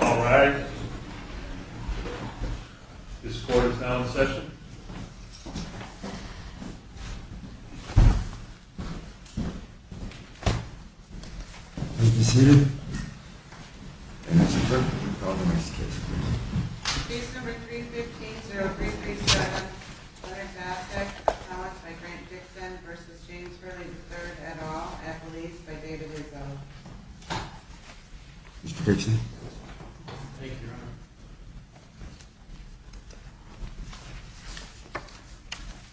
Alright, this court is now in session. Please be seated. The case number 315-0337, Leonard Zastek v. Grant Dixon v. James Hurley III, et al.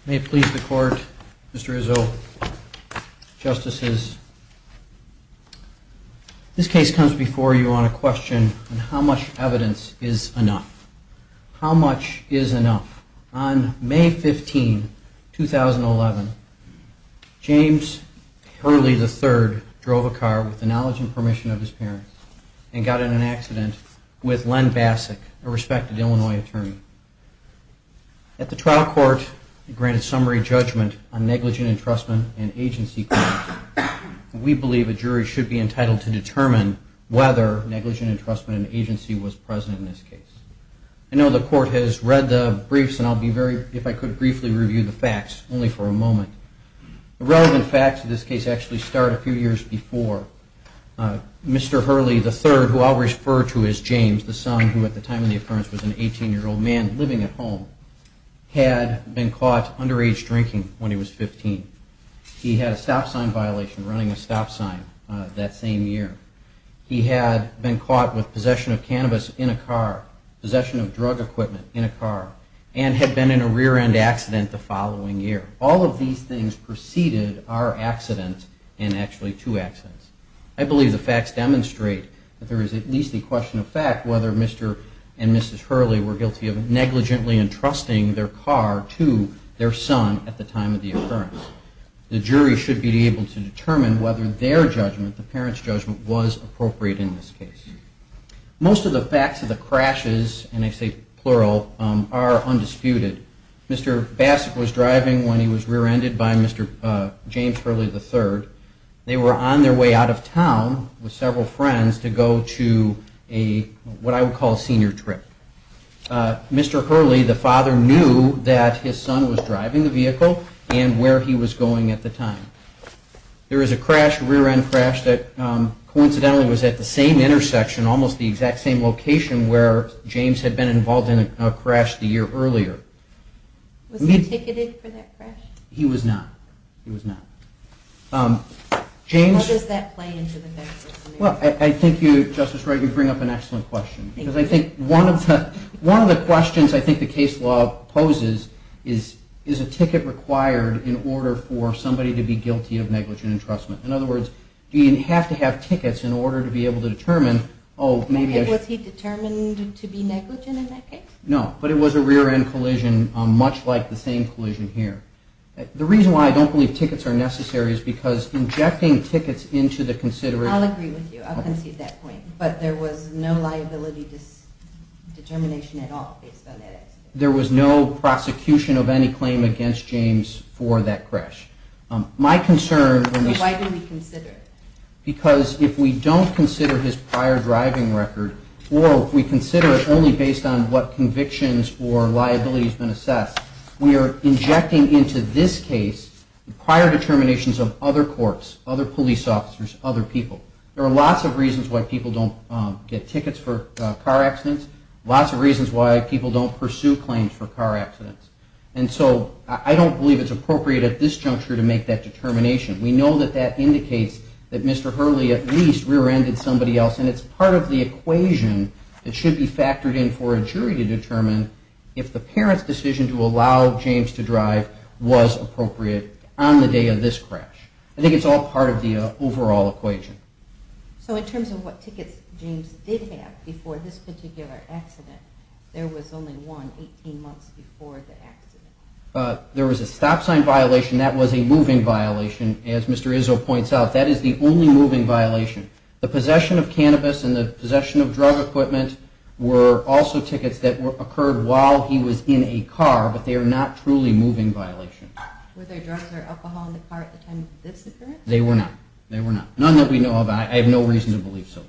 May it please the court, Mr. Izzo, Justices, this case comes before you on a question on how much evidence is enough. How much is enough? On May 15, 2011, James Hurley III drove a car with the knowledge and permission of his parents and got in an accident with Len Basak, a respected Illinois attorney. At the trial court, granted summary judgment on negligent entrustment and agency, we believe a jury should be entitled to determine whether negligent entrustment and agency was present in this case. I know the court has read the briefs and I'll be very, if I could briefly review the facts, only for a moment. The relevant facts of this case actually start a few years before. Mr. Hurley III, who I'll refer to as James, the son who at the time of the appearance was an 18-year-old man living at home, had been caught underage drinking when he was 15. He had a stop sign violation running a stop sign that same year. He had been caught with possession of cannabis in a car, possession of drug equipment in a car, and had been in a rear-end accident the following year. All of these things preceded our accident and actually two accidents. I believe the facts demonstrate that there is at least a question of fact whether Mr. and Mrs. Hurley were guilty of negligently entrusting their car to their son at the time of the occurrence. The jury should be able to determine whether their judgment, the parents' judgment, was appropriate in this case. Most of the facts of the crashes, and I say plural, are undisputed. Mr. Bassett was driving when he was rear-ended by Mr. James Hurley III. They were on their way out of town with several friends to go to what I would call a senior trip. Mr. Hurley, the father, knew that his son was driving the vehicle and where he was going at the time. There is a rear-end crash that coincidentally was at the same intersection, almost the exact same location, where James had been involved in a crash the year earlier. Was he ticketed for that crash? He was not. How does that play into the facts? Well, I think you, Justice Wright, you bring up an excellent question. Because I think one of the questions I think the case law poses is, is a ticket required in order for somebody to be guilty of negligent entrustment? In other words, do you have to have tickets in order to be able to determine, oh, maybe I... And was he determined to be negligent in that case? No, but it was a rear-end collision, much like the same collision here. The reason why I don't believe tickets are necessary is because injecting tickets into the consideration... I'll agree with you. I'll concede that point. But there was no liability determination at all based on that accident? There was no prosecution of any claim against James for that crash. So why do we consider it? Because if we don't consider his prior driving record, or if we consider it only based on what convictions or liabilities have been assessed, we are injecting into this case prior determinations of other courts, other police officers, other people. There are lots of reasons why people don't get tickets for car accidents, lots of reasons why people don't pursue claims for car accidents. And so I don't believe it's appropriate at this juncture to make that determination. We know that that indicates that Mr. Hurley at least rear-ended somebody else, and it's part of the equation that should be factored in for a jury to determine if the parent's decision to allow James to drive was appropriate on the day of this crash. I think it's all part of the overall equation. So in terms of what tickets James did have before this particular accident, there was only one 18 months before the accident? There was a stop sign violation. That was a moving violation, as Mr. Izzo points out. That is the only moving violation. The possession of cannabis and the possession of drug equipment were also tickets that occurred while he was in a car, but they are not truly moving violations. Were there drugs or alcohol in the car at the time this occurred? They were not. They were not. None that we know of. I have no reason to believe so.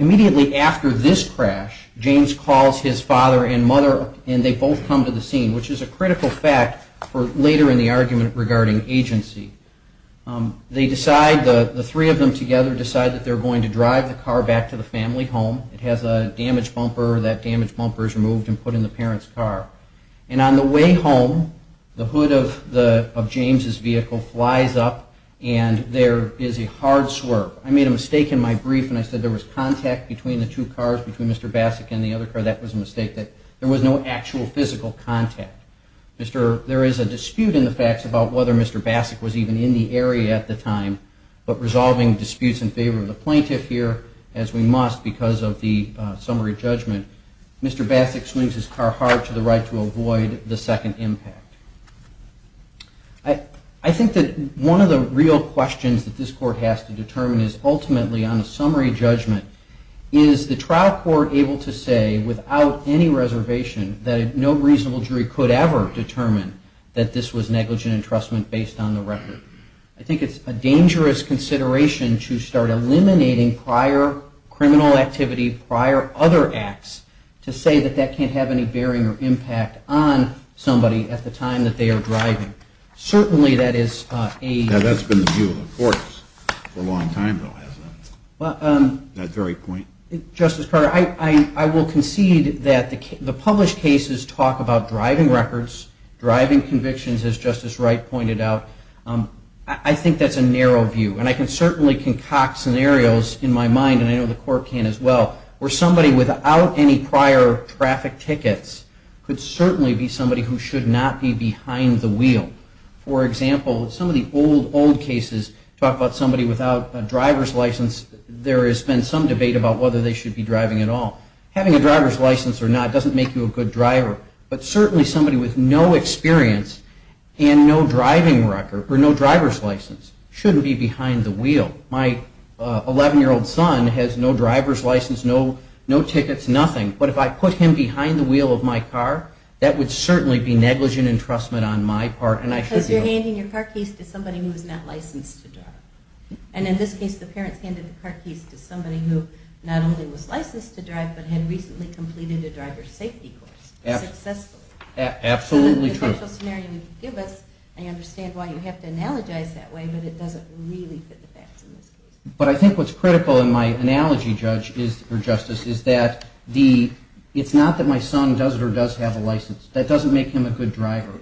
Immediately after this crash, James calls his father and mother and they both come to the scene, which is a critical fact for later in the argument regarding agency. They decide, the three of them together decide that they're going to drive the car back to the family home. It has a damaged bumper. That damaged bumper is removed and put in the parent's car. And on the way home, the hood of James's vehicle flies up and there is a hard swerve. I made a mistake in my brief when I said there was contact between the two cars, between Mr. Basak and the other car. That was a mistake. There was no actual physical contact. There is a dispute in the facts about whether Mr. Basak was even in the area at the time, but resolving disputes in favor of the plaintiff here, as we must because of the summary judgment, Mr. Basak swings his car hard to the right to avoid the second impact. I think that one of the real questions that this court has to determine is ultimately on a summary judgment, is the trial court able to say without any reservation that no reasonable jury could ever determine that this was negligent entrustment based on the record? I think it's a dangerous consideration to start eliminating prior criminal activity, prior other acts, to say that that can't have any bearing or impact on somebody at the time that they are driving. Certainly that is a... That's been the view of the courts for a long time, though, hasn't it? That very point. Justice Carter, I will concede that the published cases talk about driving records, driving convictions, as Justice Wright pointed out. I think that's a narrow view, and I can certainly concoct scenarios in my mind, and I know the court can as well, where somebody without any prior traffic tickets could certainly be somebody who should not be behind the wheel. For example, some of the old, old cases talk about somebody without a driver's license, there has been some debate about whether they should be driving at all. Having a driver's license or not doesn't make you a good driver, but certainly somebody with no experience and no driving record, or no driver's license, shouldn't be behind the wheel. My 11-year-old son has no driver's license, no tickets, nothing, but if I put him behind the wheel of my car, that would certainly be negligent entrustment on my part. Because you're handing your car keys to somebody who is not licensed to drive. And in this case, the parents handed the car keys to somebody who not only was licensed to drive, but had recently completed a driver's safety course successfully. Absolutely true. I understand why you have to analogize that way, but it doesn't really fit the facts in this case. But I think what's critical in my analogy, Justice, is that it's not that my son does or does have a license, that doesn't make him a good driver.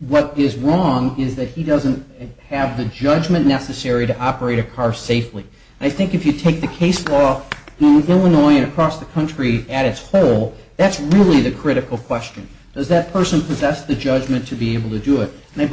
What is wrong is that he doesn't have the judgment necessary to operate a car safely. And I think if you take the case law in Illinois and across the country at its whole, that's really the critical question. Does that person possess the judgment to be able to do it? But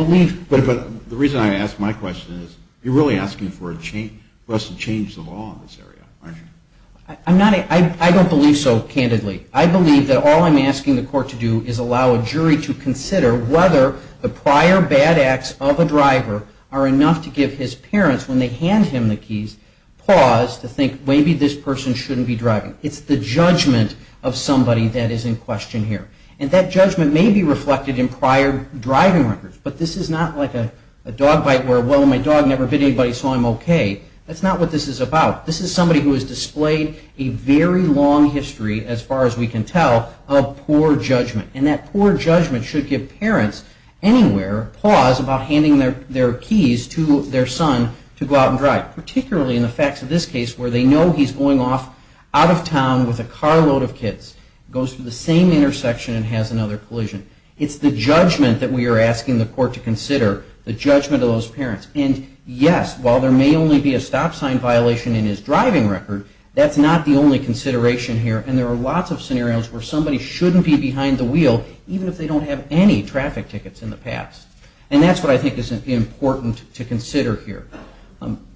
the reason I ask my question is, you're really asking for a person to change the law in this area, aren't you? I don't believe so, candidly. I believe that all I'm asking the court to do is allow a jury to consider whether the prior bad acts of a driver are enough to give his parents, when they hand him the keys, pause to think, maybe this person shouldn't be driving. It's the judgment of somebody that is in question here. And that judgment may be reflected in prior driving records. But this is not like a dog bite where, well, my dog never bit anybody, so I'm okay. That's not what this is about. This is somebody who has displayed a very long history, as far as we can tell, of poor judgment. And that poor judgment should give parents anywhere pause about handing their keys to their son to go out and drive. Particularly in the facts of this case, where they know he's going off out of town with a carload of kids. Goes to the same intersection and has another collision. It's the judgment that we are asking the court to consider. The judgment of those parents. And yes, while there may only be a stop sign violation in his driving record, that's not the only consideration here. And there are lots of scenarios where somebody shouldn't be behind the wheel, even if they don't have any traffic tickets in the past. And that's what I think is important to consider here.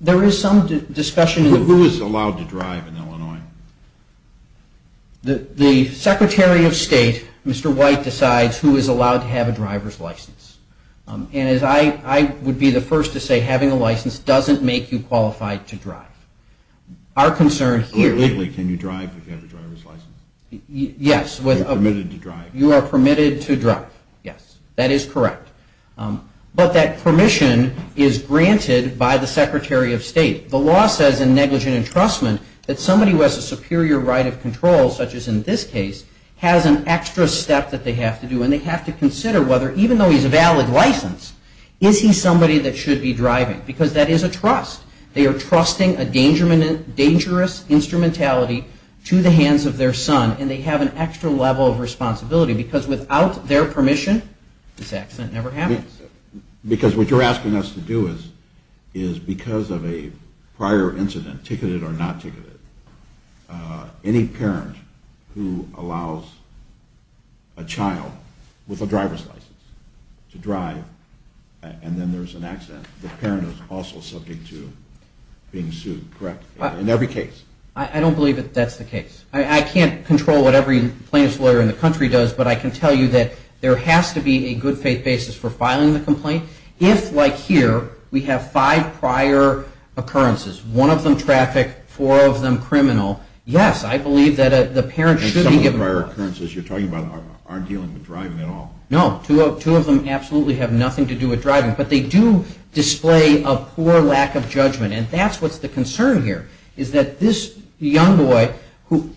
There is some discussion... Who is allowed to drive in Illinois? The Secretary of State, Mr. White, decides who is allowed to have a driver's license. And I would be the first to say having a license doesn't make you qualified to drive. Our concern here... The license is granted by the Secretary of State. The law says in negligent entrustment that somebody who has a superior right of control, such as in this case, has an extra step that they have to do. And they have to consider whether, even though he's a valid license, is he somebody that should be driving. Because that is a trust. They are trusting a dangerous instrumentality to the hands of their son. And they have an extra level of responsibility. Because without their permission, this accident never happens. Because what you're asking us to do is, because of a prior incident, ticketed or not ticketed, any parent who allows a child with a driver's license to drive, and then there's an accident, the parent is also subject to being sued, correct? In every case. I don't believe that that's the case. I can't control what every plaintiff's lawyer in the country does, but I can tell you that there has to be a good faith basis for filing the complaint. If, like here, we have five prior occurrences, one of them traffic, four of them criminal, yes, I believe that the parent should be given... And some of the prior occurrences you're talking about aren't dealing with driving at all. No, two of them absolutely have nothing to do with driving. But they do display a poor lack of judgment. And that's what's the concern here, is that this young boy,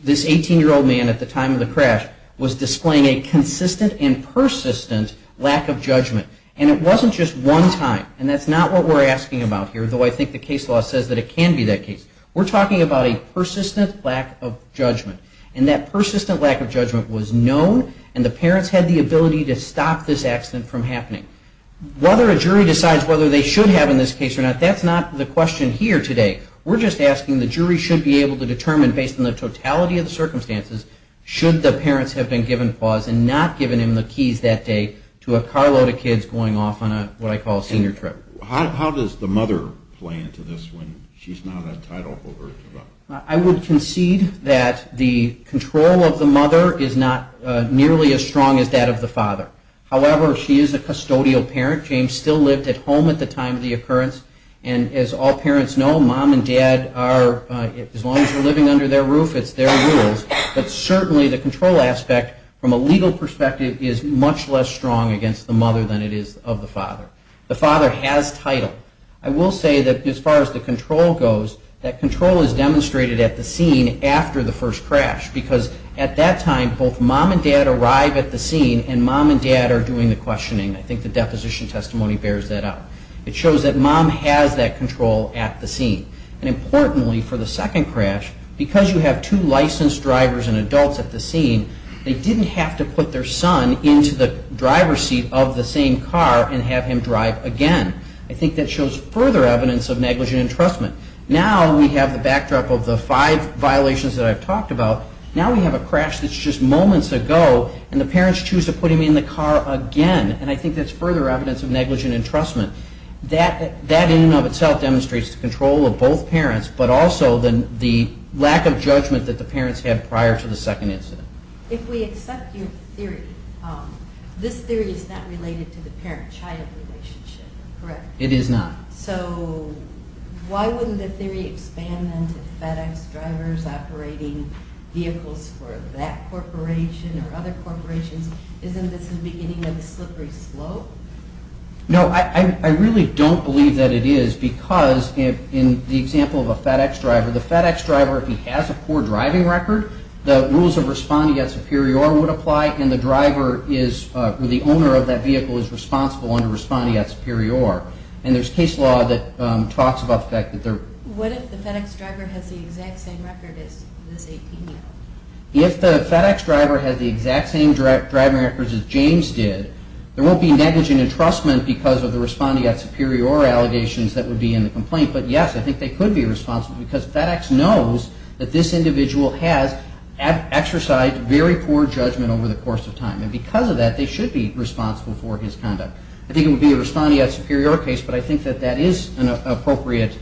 this 18-year-old man at the time of the crash, was displaying a consistent and persistent lack of judgment. And it wasn't just one time, and that's not what we're asking about here, though I think the case law says that it can be that case. We're talking about a persistent lack of judgment. And that persistent lack of judgment was known, and the parents had the ability to stop this accident from happening. Whether a jury decides whether they should have in this case or not, that's not the question here today. We're just asking the jury should be able to determine, based on the totality of the circumstances, should the parents have been given pause and not given him the keys that day to a carload of kids going off on what I call a senior trip. I would concede that the control of the mother is not nearly as strong as that of the father. However, she is a custodial parent. James still lived at home at the time of the occurrence. And as all parents know, mom and dad are, as long as you're living under their roof, it's their rules. But certainly the control aspect, from a legal perspective, is much less strong against the mother than it is of the father. The father has title. I will say that as far as the control goes, that control is demonstrated at the scene after the first crash. Because at that time, both mom and dad arrive at the scene and mom and dad are doing the questioning. I think the deposition testimony bears that out. It shows that mom has that control at the scene. And importantly, for the second crash, because you have two licensed drivers and adults at the scene, they didn't have to put their son into the driver's seat of the same car and have him drive again. I think that shows further evidence of negligent entrustment. Now we have the backdrop of the five violations that I've talked about. Now we have a crash that's just moments ago, and the parents choose to put him in the car again. And I think that's further evidence of negligent entrustment. That in and of itself demonstrates the control of both parents, but also the lack of judgment that the parents had prior to the second incident. If we accept your theory, this theory is not related to the parent-child relationship, correct? It is not. So why wouldn't the theory expand then to FedEx drivers operating vehicles for that corporation or other corporations? Isn't this the beginning of the slippery slope? No, I really don't believe that it is, because in the example of a FedEx driver, the FedEx driver, if he has a poor driving record, the rules of respondeat superior would apply, and the owner of that vehicle is responsible under respondeat superior. And there's case law that talks about the fact that there... What if the FedEx driver has the exact same record as this AP? If the FedEx driver has the exact same driving records as James did, there won't be negligent entrustment because of the respondeat superior allegations that would be in the complaint. But yes, I think they could be responsible, because FedEx knows that this individual has exercised very poor judgment over the course of time. And because of that, they should be responsible for his conduct. I think it would be a respondeat superior case, but I think that that is an appropriate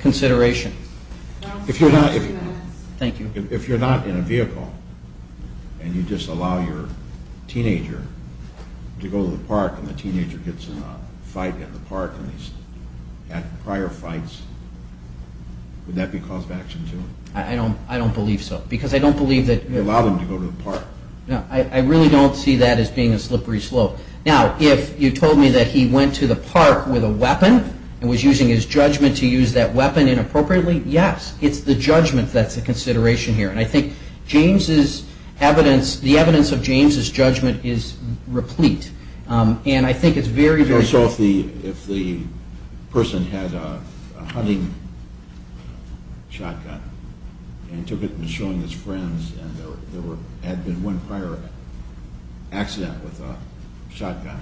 consideration. Thank you. If you're not in a vehicle and you just allow your teenager to go to the park and the teenager gets in a fight at the park and he's had prior fights, would that be cause of action too? I don't believe so, because I don't believe that... You allow them to go to the park. I really don't see that as being a slippery slope. Now, if you told me that he went to the park with a weapon and was using his judgment to use that weapon inappropriately, yes, it's the judgment that's a consideration here. And I think the evidence of James's judgment is replete. So if the person had a hunting shotgun and took it and was showing his friends and there had been one prior accident with a shotgun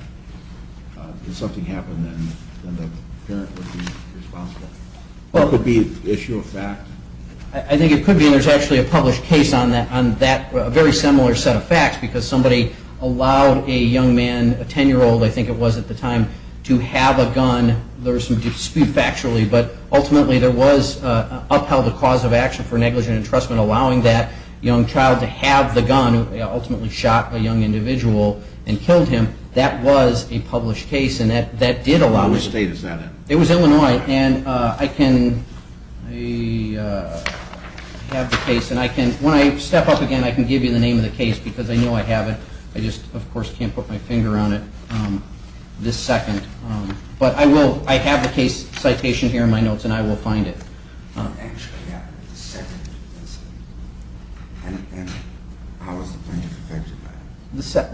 and something happened, then the parent would be responsible. Could it be an issue of fact? I think it could be, and there's actually a published case on that, a very similar set of facts, because somebody allowed a young man, a 10-year-old I think it was at the time, to have a gun. There was some dispute factually, but ultimately there was upheld a cause of action for negligent entrustment allowing that young child to have the gun, ultimately shot a young individual and killed him. That was a published case and that did allow... What state is that in? It was Illinois. And I can... When I step up again I can give you the name of the case because I know I have it. I just of course can't put my finger on it this second. But I have the case citation here in my notes and I will find it.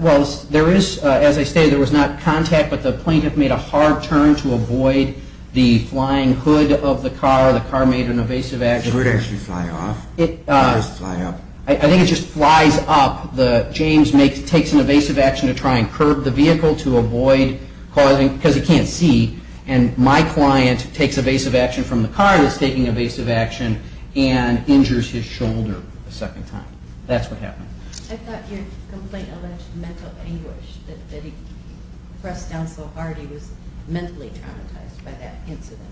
Well, there is, as I stated, there was not contact, but the plaintiff made a hard turn to avoid the flying hood of the car. The car made an evasive action. I think it just flies up. James takes an evasive action to try and curb the vehicle to avoid causing... Mental anguish that he pressed down so hard he was mentally traumatized by that incident.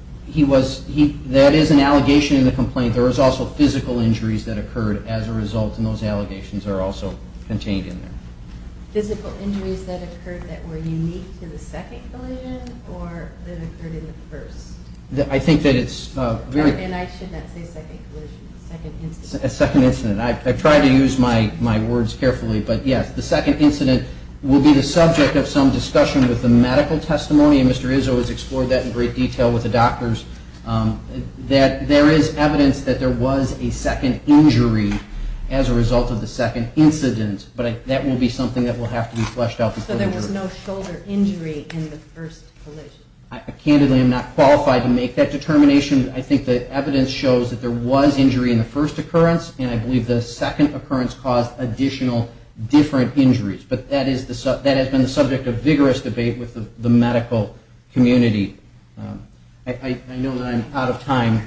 That is an allegation in the complaint. There was also physical injuries that occurred as a result and those allegations are also contained in there. Physical injuries that occurred that were unique to the second collision or that occurred in the first? I think that it's very... I think that the second incident will be the subject of some discussion with the medical testimony and Mr. Izzo has explored that in great detail with the doctors. That there is evidence that there was a second injury as a result of the second incident, but that will be something that will have to be fleshed out. So there was no shoulder injury in the first collision? No, there were no shoulder injuries, but that has been the subject of vigorous debate with the medical community. I know that I'm out of time.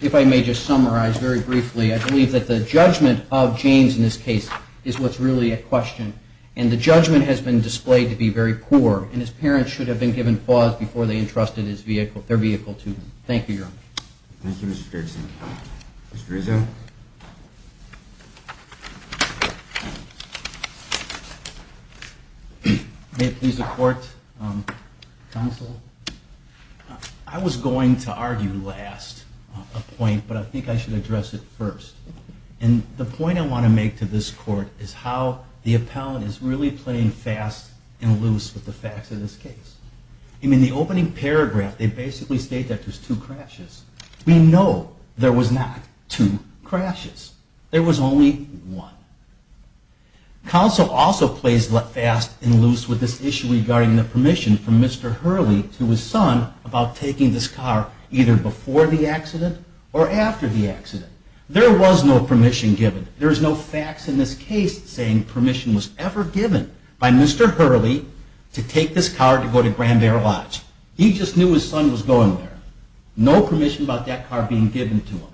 If I may just summarize very briefly, I believe that the judgment of James in this case is what's really at question and the judgment has been displayed to be very poor and his parents should have been given pause before they entrusted their vehicle to him. Thank you, Your Honor. I was going to argue last a point, but I think I should address it first. The point I want to make to this Court is how the appellant is really playing fast and loose with the facts of this case. In the opening paragraph they basically state that there were two crashes. We know there were not two crashes. There was only one. Counsel also plays fast and loose with this issue regarding the permission from Mr. Hurley to his son about taking this car either before the accident or after the accident. There was no permission given. There's no facts in this case saying permission was ever given by Mr. Hurley to take this car to go to Grand Barrel Lodge. He just knew his son was going there. No permission about that car being given to him.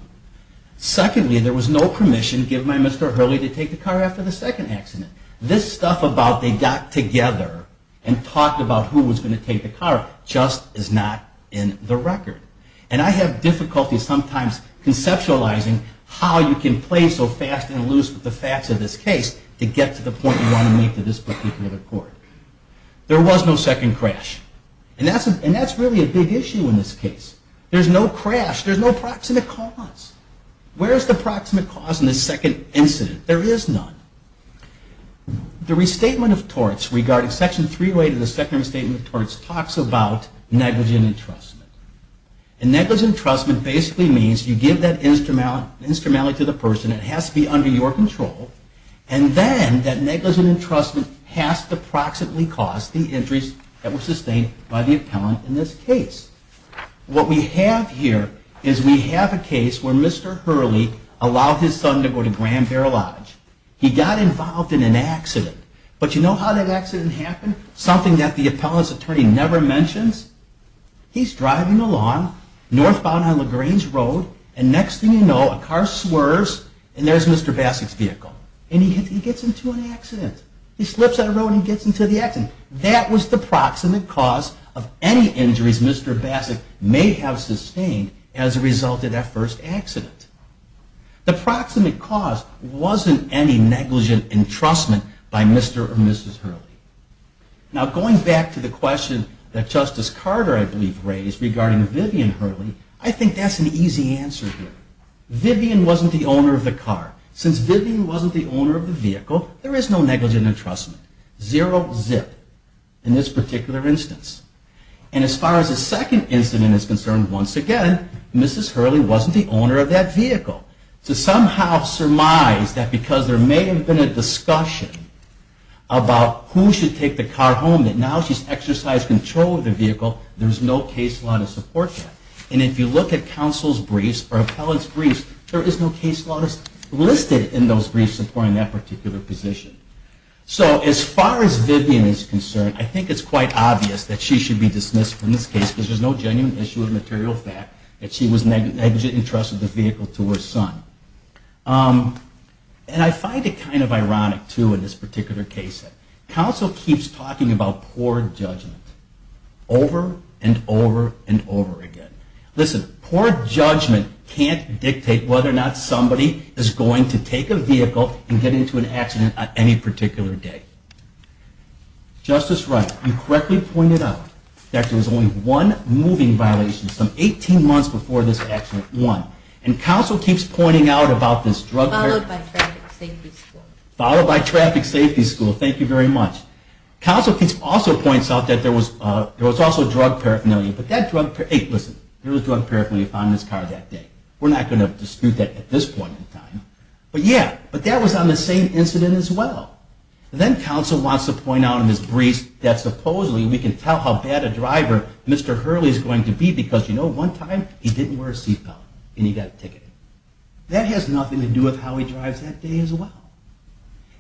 Secondly, there was no permission given by Mr. Hurley to take the car after the second accident. This stuff about they got together and talked about who was going to take the car just is not in the record. And I have difficulty sometimes conceptualizing how you can play so fast and loose with the facts of this case to get to the point you want to make to this particular Court. There was no second crash. And that's really a big issue in this case. There's no crash. There's no proximate cause. Where is the proximate cause in this second incident? There is none. The restatement of torts regarding Section 308 of the Second Restatement of Torts talks about negligent entrustment. And negligent entrustment basically means you give that instrumentally to the person. It has to be under your control. And then that negligent entrustment has to proximately cause the injuries that were sustained by the appellant in this case. What we have here is we have a case where Mr. Hurley allowed his son to go to Grand Barrel Lodge. He got involved in an accident. But you know how that accident happened? Something that the appellant's attorney never mentions? He's driving along northbound on LaGrange Road and next thing you know a car swerves and there's Mr. Basak's vehicle. And he gets into an accident. He slips on the road and he gets into the accident. That was the proximate cause of any injuries Mr. Basak may have sustained as a result of that first accident. The proximate cause wasn't any negligent entrustment by Mr. or Mrs. Hurley. Now going back to the question that Justice Carter I believe raised regarding Vivian Hurley, I think that's an easy answer here. Vivian wasn't the owner of the car. Since Vivian wasn't the owner of the vehicle, there is no negligent entrustment. Zero zip in this particular instance. And as far as the second incident is concerned, once again, Mrs. Hurley wasn't the owner of that vehicle. So somehow surmise that because there may have been a discussion about who should take the car home, that now she's exercised control of the vehicle. There's no case law to support that. And if you look at counsel's briefs or appellant's briefs, there is no case law listed in those briefs supporting that particular position. So as far as Vivian is concerned, I think it's quite obvious that she should be dismissed from this case because there's no genuine issue of material fact that she was negligent entrusted the vehicle to her son. And I find it kind of ironic too in this particular case. Counsel keeps talking about poor judgment over and over and over again. Listen, poor judgment can't dictate whether or not somebody is going to take a vehicle and get into an accident at any one time. It can't dictate whether or not somebody is going to get into an accident on any particular day. Justice Wright, you correctly pointed out that there was only one moving violation some 18 months before this accident. And counsel keeps pointing out about this drug paraphernalia. Followed by traffic safety school. Thank you very much. Counsel also points out that there was also drug paraphernalia. But that drug paraphernalia was found in his car that day. We're not going to dispute that at this point in time. But that was on the same incident as well. Then counsel wants to point out in his briefs that supposedly we can tell how bad a driver Mr. Hurley is going to be because you know one time he didn't wear a seatbelt and he got a ticket. That has nothing to do with how he drives that day as well.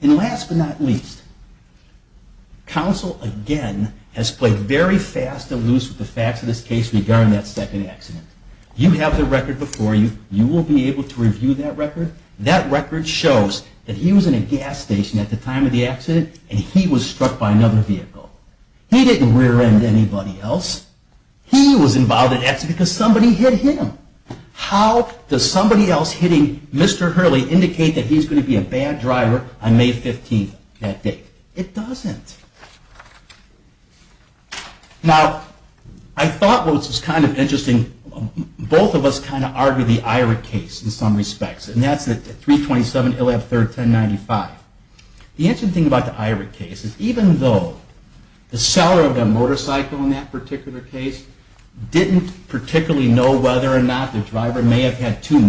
And last but not least, counsel again has played very fast and loose with the facts of this case regarding that second accident. You have the record before you. You will be able to review that record. That record shows that he was in a gas station at the time of the accident and he was struck by another vehicle. He didn't rear end anybody else. He was involved in the accident because somebody hit him. How does somebody else hitting Mr. Hurley indicate that he's going to be a bad driver on May 15th that day? It doesn't. Now, I thought what was kind of interesting, both of us kind of argued the IRA case in some respects. And that's the 327 ILAB 31095. The interesting thing about the IRA case is even though the seller of the motorcycle in that particular case didn't particularly know whether or not the driver may have had two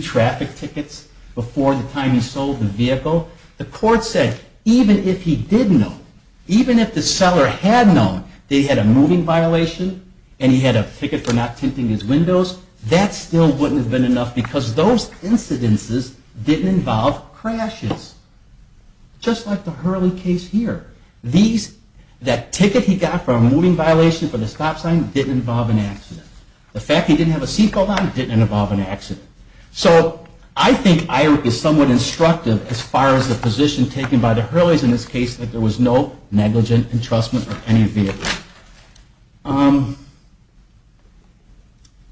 traffic tickets before the time he sold the vehicle, the court said even if he did know, even if the seller had known that he had a moving violation and he had a ticket for not tinting his windows, that still wouldn't have been a violation. That still wouldn't have been enough because those incidences didn't involve crashes. Just like the Hurley case here. That ticket he got for a moving violation for the stop sign didn't involve an accident. The fact he didn't have a seat belt on didn't involve an accident. So I think IRA is somewhat instructive as far as the position taken by the Hurleys in this case that there was no negligent entrustment of any vehicle.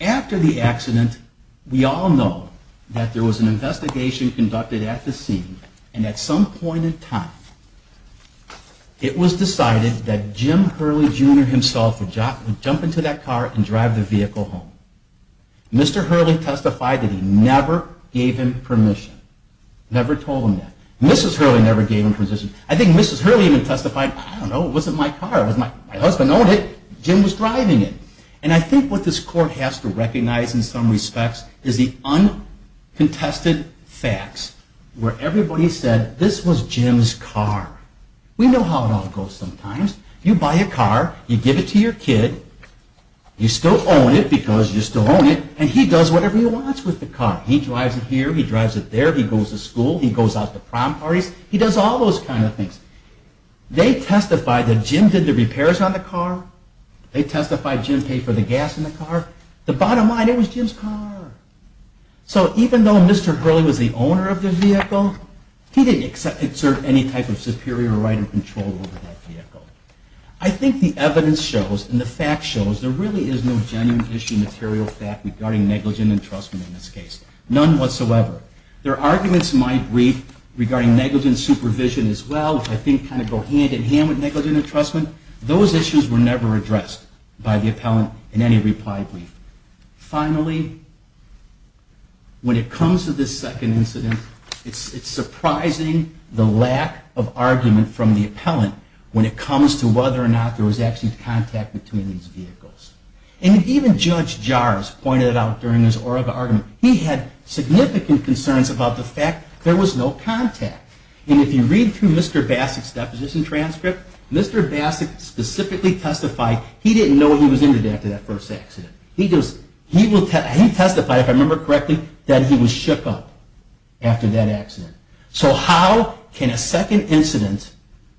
After the accident we all know that there was an investigation conducted at the scene and at some point in time it was decided that Jim Hurley Jr. himself would jump into that car and drive the vehicle home. Mr. Hurley testified that he never gave him permission. Never told him that. Mrs. Hurley never gave him permission. I think Mrs. Hurley even testified, I don't know, it wasn't my car, my husband owned it, Jim was driving it. And I think what this court has to recognize in some respects is the uncontested facts where everybody said this was Jim's car. We know how it all goes sometimes. You buy a car, you give it to your kid, you still own it because you still own it, and he does whatever he wants with the car. He drives it here, he drives it there, he goes to school, he goes out to prom parties, he does all those kind of things. They testified that Jim did the repairs on the car. They testified Jim paid for the gas in the car. The bottom line, it was Jim's car. So even though Mr. Hurley was the owner of the vehicle, he didn't exert any type of superior right of control over that vehicle. I think the evidence shows and the fact shows there really is no genuine issue material fact regarding negligent entrustment in this case. None whatsoever. There are arguments might read regarding negligent supervision as well, which I think kind of go hand in hand with negligent entrustment. Those issues were never addressed by the appellant in any reply brief. Finally, when it comes to this second incident, it's surprising the lack of argument from the appellant when it comes to whether or not there was actually contact between these vehicles. And even Judge Jars pointed out during his oral argument, he had significant concerns about the fact there was no contact. And if you read through Mr. Bassett's deposition transcript, Mr. Bassett specifically testified he didn't know he was injured after that first accident. He testified, if I remember correctly, that he was shook up after that accident. So how can a second incident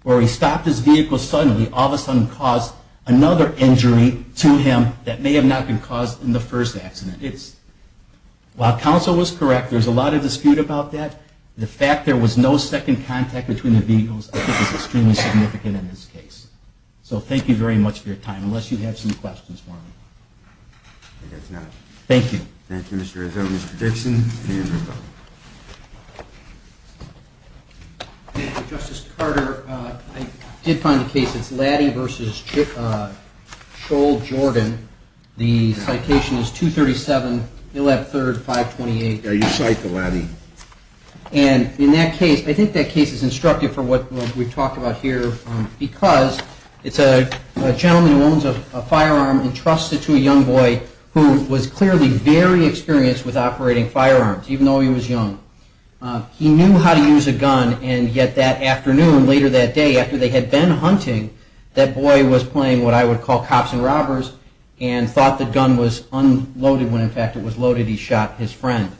where he stopped his vehicle suddenly all of a sudden cause another injury to his vehicle? That may have not been caused in the first accident. While counsel was correct, there's a lot of dispute about that. The fact there was no second contact between the vehicles I think is extremely significant in this case. So thank you very much for your time, unless you have some questions for me. Thank you. Thank you, Mr. Rizzo. Mr. Dixon. Thank you, Justice Carter. I did find a case, it's Laddy v. Scholl-Jordan. The citation is 237, 11-3-528. And in that case, I think that case is instructive for what we've talked about here because it's a gentleman who owns a firearm entrusted to a young boy who was clearly very experienced with operating firearms, even though he was young. He knew how to use a gun, and yet that afternoon, later that day, after they had been hunting, that boy was playing what I would call cops and robbers and thought the gun was unloaded when in fact it was loaded, he shot his friend.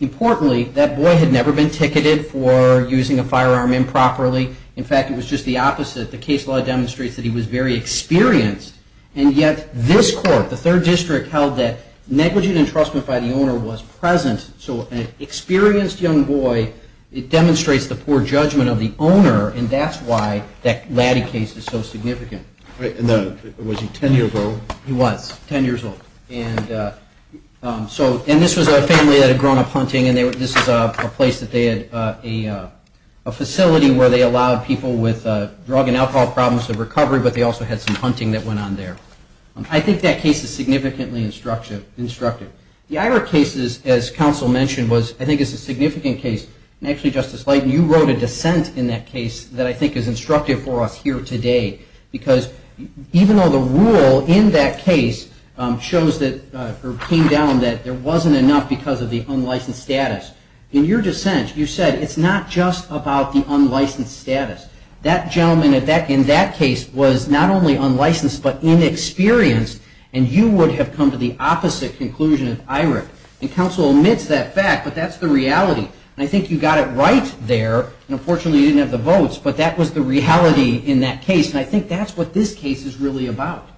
Importantly, that boy had never been ticketed for using a firearm improperly. In fact, it was just the opposite. The case law demonstrates that he was very experienced, and yet this court, the third district, held that negligent entrustment by the owner was present. So an experienced young boy, it demonstrates the poor judgment of the owner, and that's why that Laddy case is so significant. And was he 10 years old? He was 10 years old. And this was a family that had grown up hunting, and this is a place that they had a facility where they allowed people with drug and alcohol problems to recover, but they also had some hunting that went on there. I think that case is significantly instructive. The Ira case, as counsel mentioned, I think is a significant case. And actually, Justice Leighton, you wrote a dissent in that case that I think is instructive for us here today. Because even though the rule in that case came down that there wasn't enough because of the unlicensed status, in your dissent you said it's not just about the unlicensed status. That gentleman in that case was not only unlicensed but inexperienced, and you would have come to the opposite conclusion of IRAC. And counsel omits that fact, but that's the reality. And I think you got it right there, and unfortunately you didn't have the votes, but that was the reality in that case. And I think that's what this case is really about.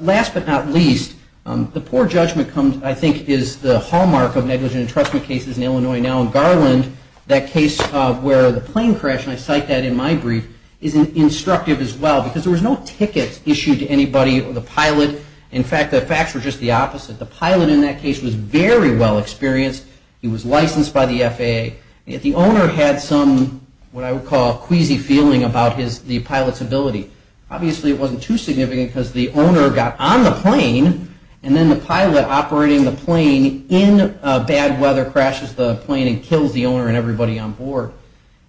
Last but not least, the poor judgment I think is the hallmark of negligent entrustment cases in Illinois now. In Garland, that case where the plane crashed, and I cite that in my brief, is instructive as well. Because there was no ticket issued to anybody, the pilot. In fact, the facts were just the opposite. The pilot in that case was very well experienced. He was licensed by the FAA. Yet the owner had some what I would call queasy feeling about the pilot's ability. Obviously it wasn't too significant because the owner got on the plane, and then the pilot operating the plane in bad weather crashes the plane and kills the owner and everybody on board.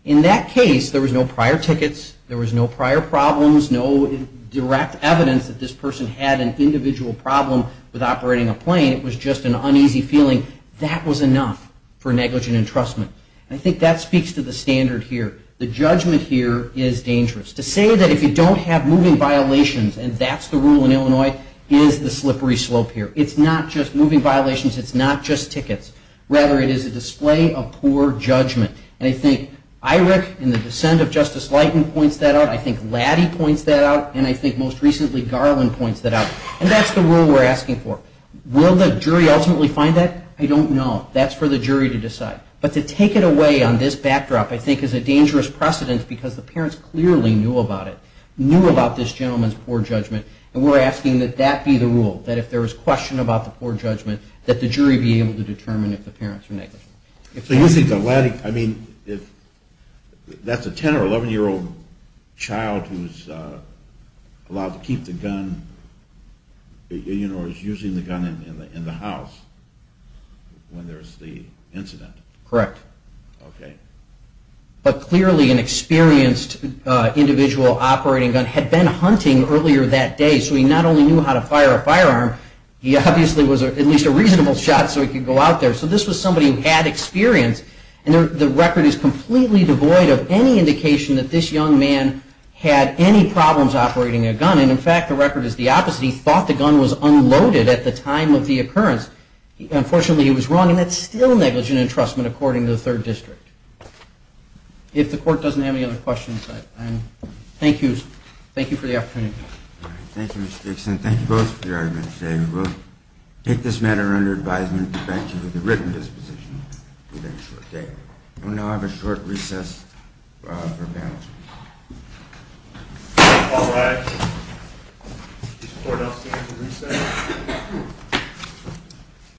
In that case, there was no prior tickets. There was no prior problems, no direct evidence that this person had an individual problem with operating a plane. It was just an uneasy feeling. That was enough for negligent entrustment. I think that speaks to the standard here. The judgment here is dangerous. To say that if you don't have moving violations, and that's the rule in Illinois, is the slippery slope here. It's not just moving violations, it's not just tickets. Rather, it is a display of poor judgment. And I think IRIC and the dissent of Justice Leighton points that out. I think Latty points that out, and I think most recently Garland points that out. And that's the rule we're asking for. Will the jury ultimately find that? That's a 10 or 11-year-old child who's allowed to keep the gun, or is using the gun in the house when there's the incident. Correct. But clearly an experienced individual operating gun had been hunting earlier that day, so he not only knew how to fire a firearm, he obviously was at least a reasonable shot so he could go out there. So this was somebody who had experience, and the record is completely devoid of any indication that this young man had any problems operating a gun. And in fact, the record is the opposite. He thought the gun was unloaded at the time of the occurrence. Unfortunately, he was wrong, and that's still negligent entrustment according to the 3rd District. If the court doesn't have any other questions, I thank you for the opportunity. Thank you, Mr. Dixon. Thank you both for your arguments today. We will take this matter under advisement and provide you with a written disposition. We now have a short recess for panel. All rise.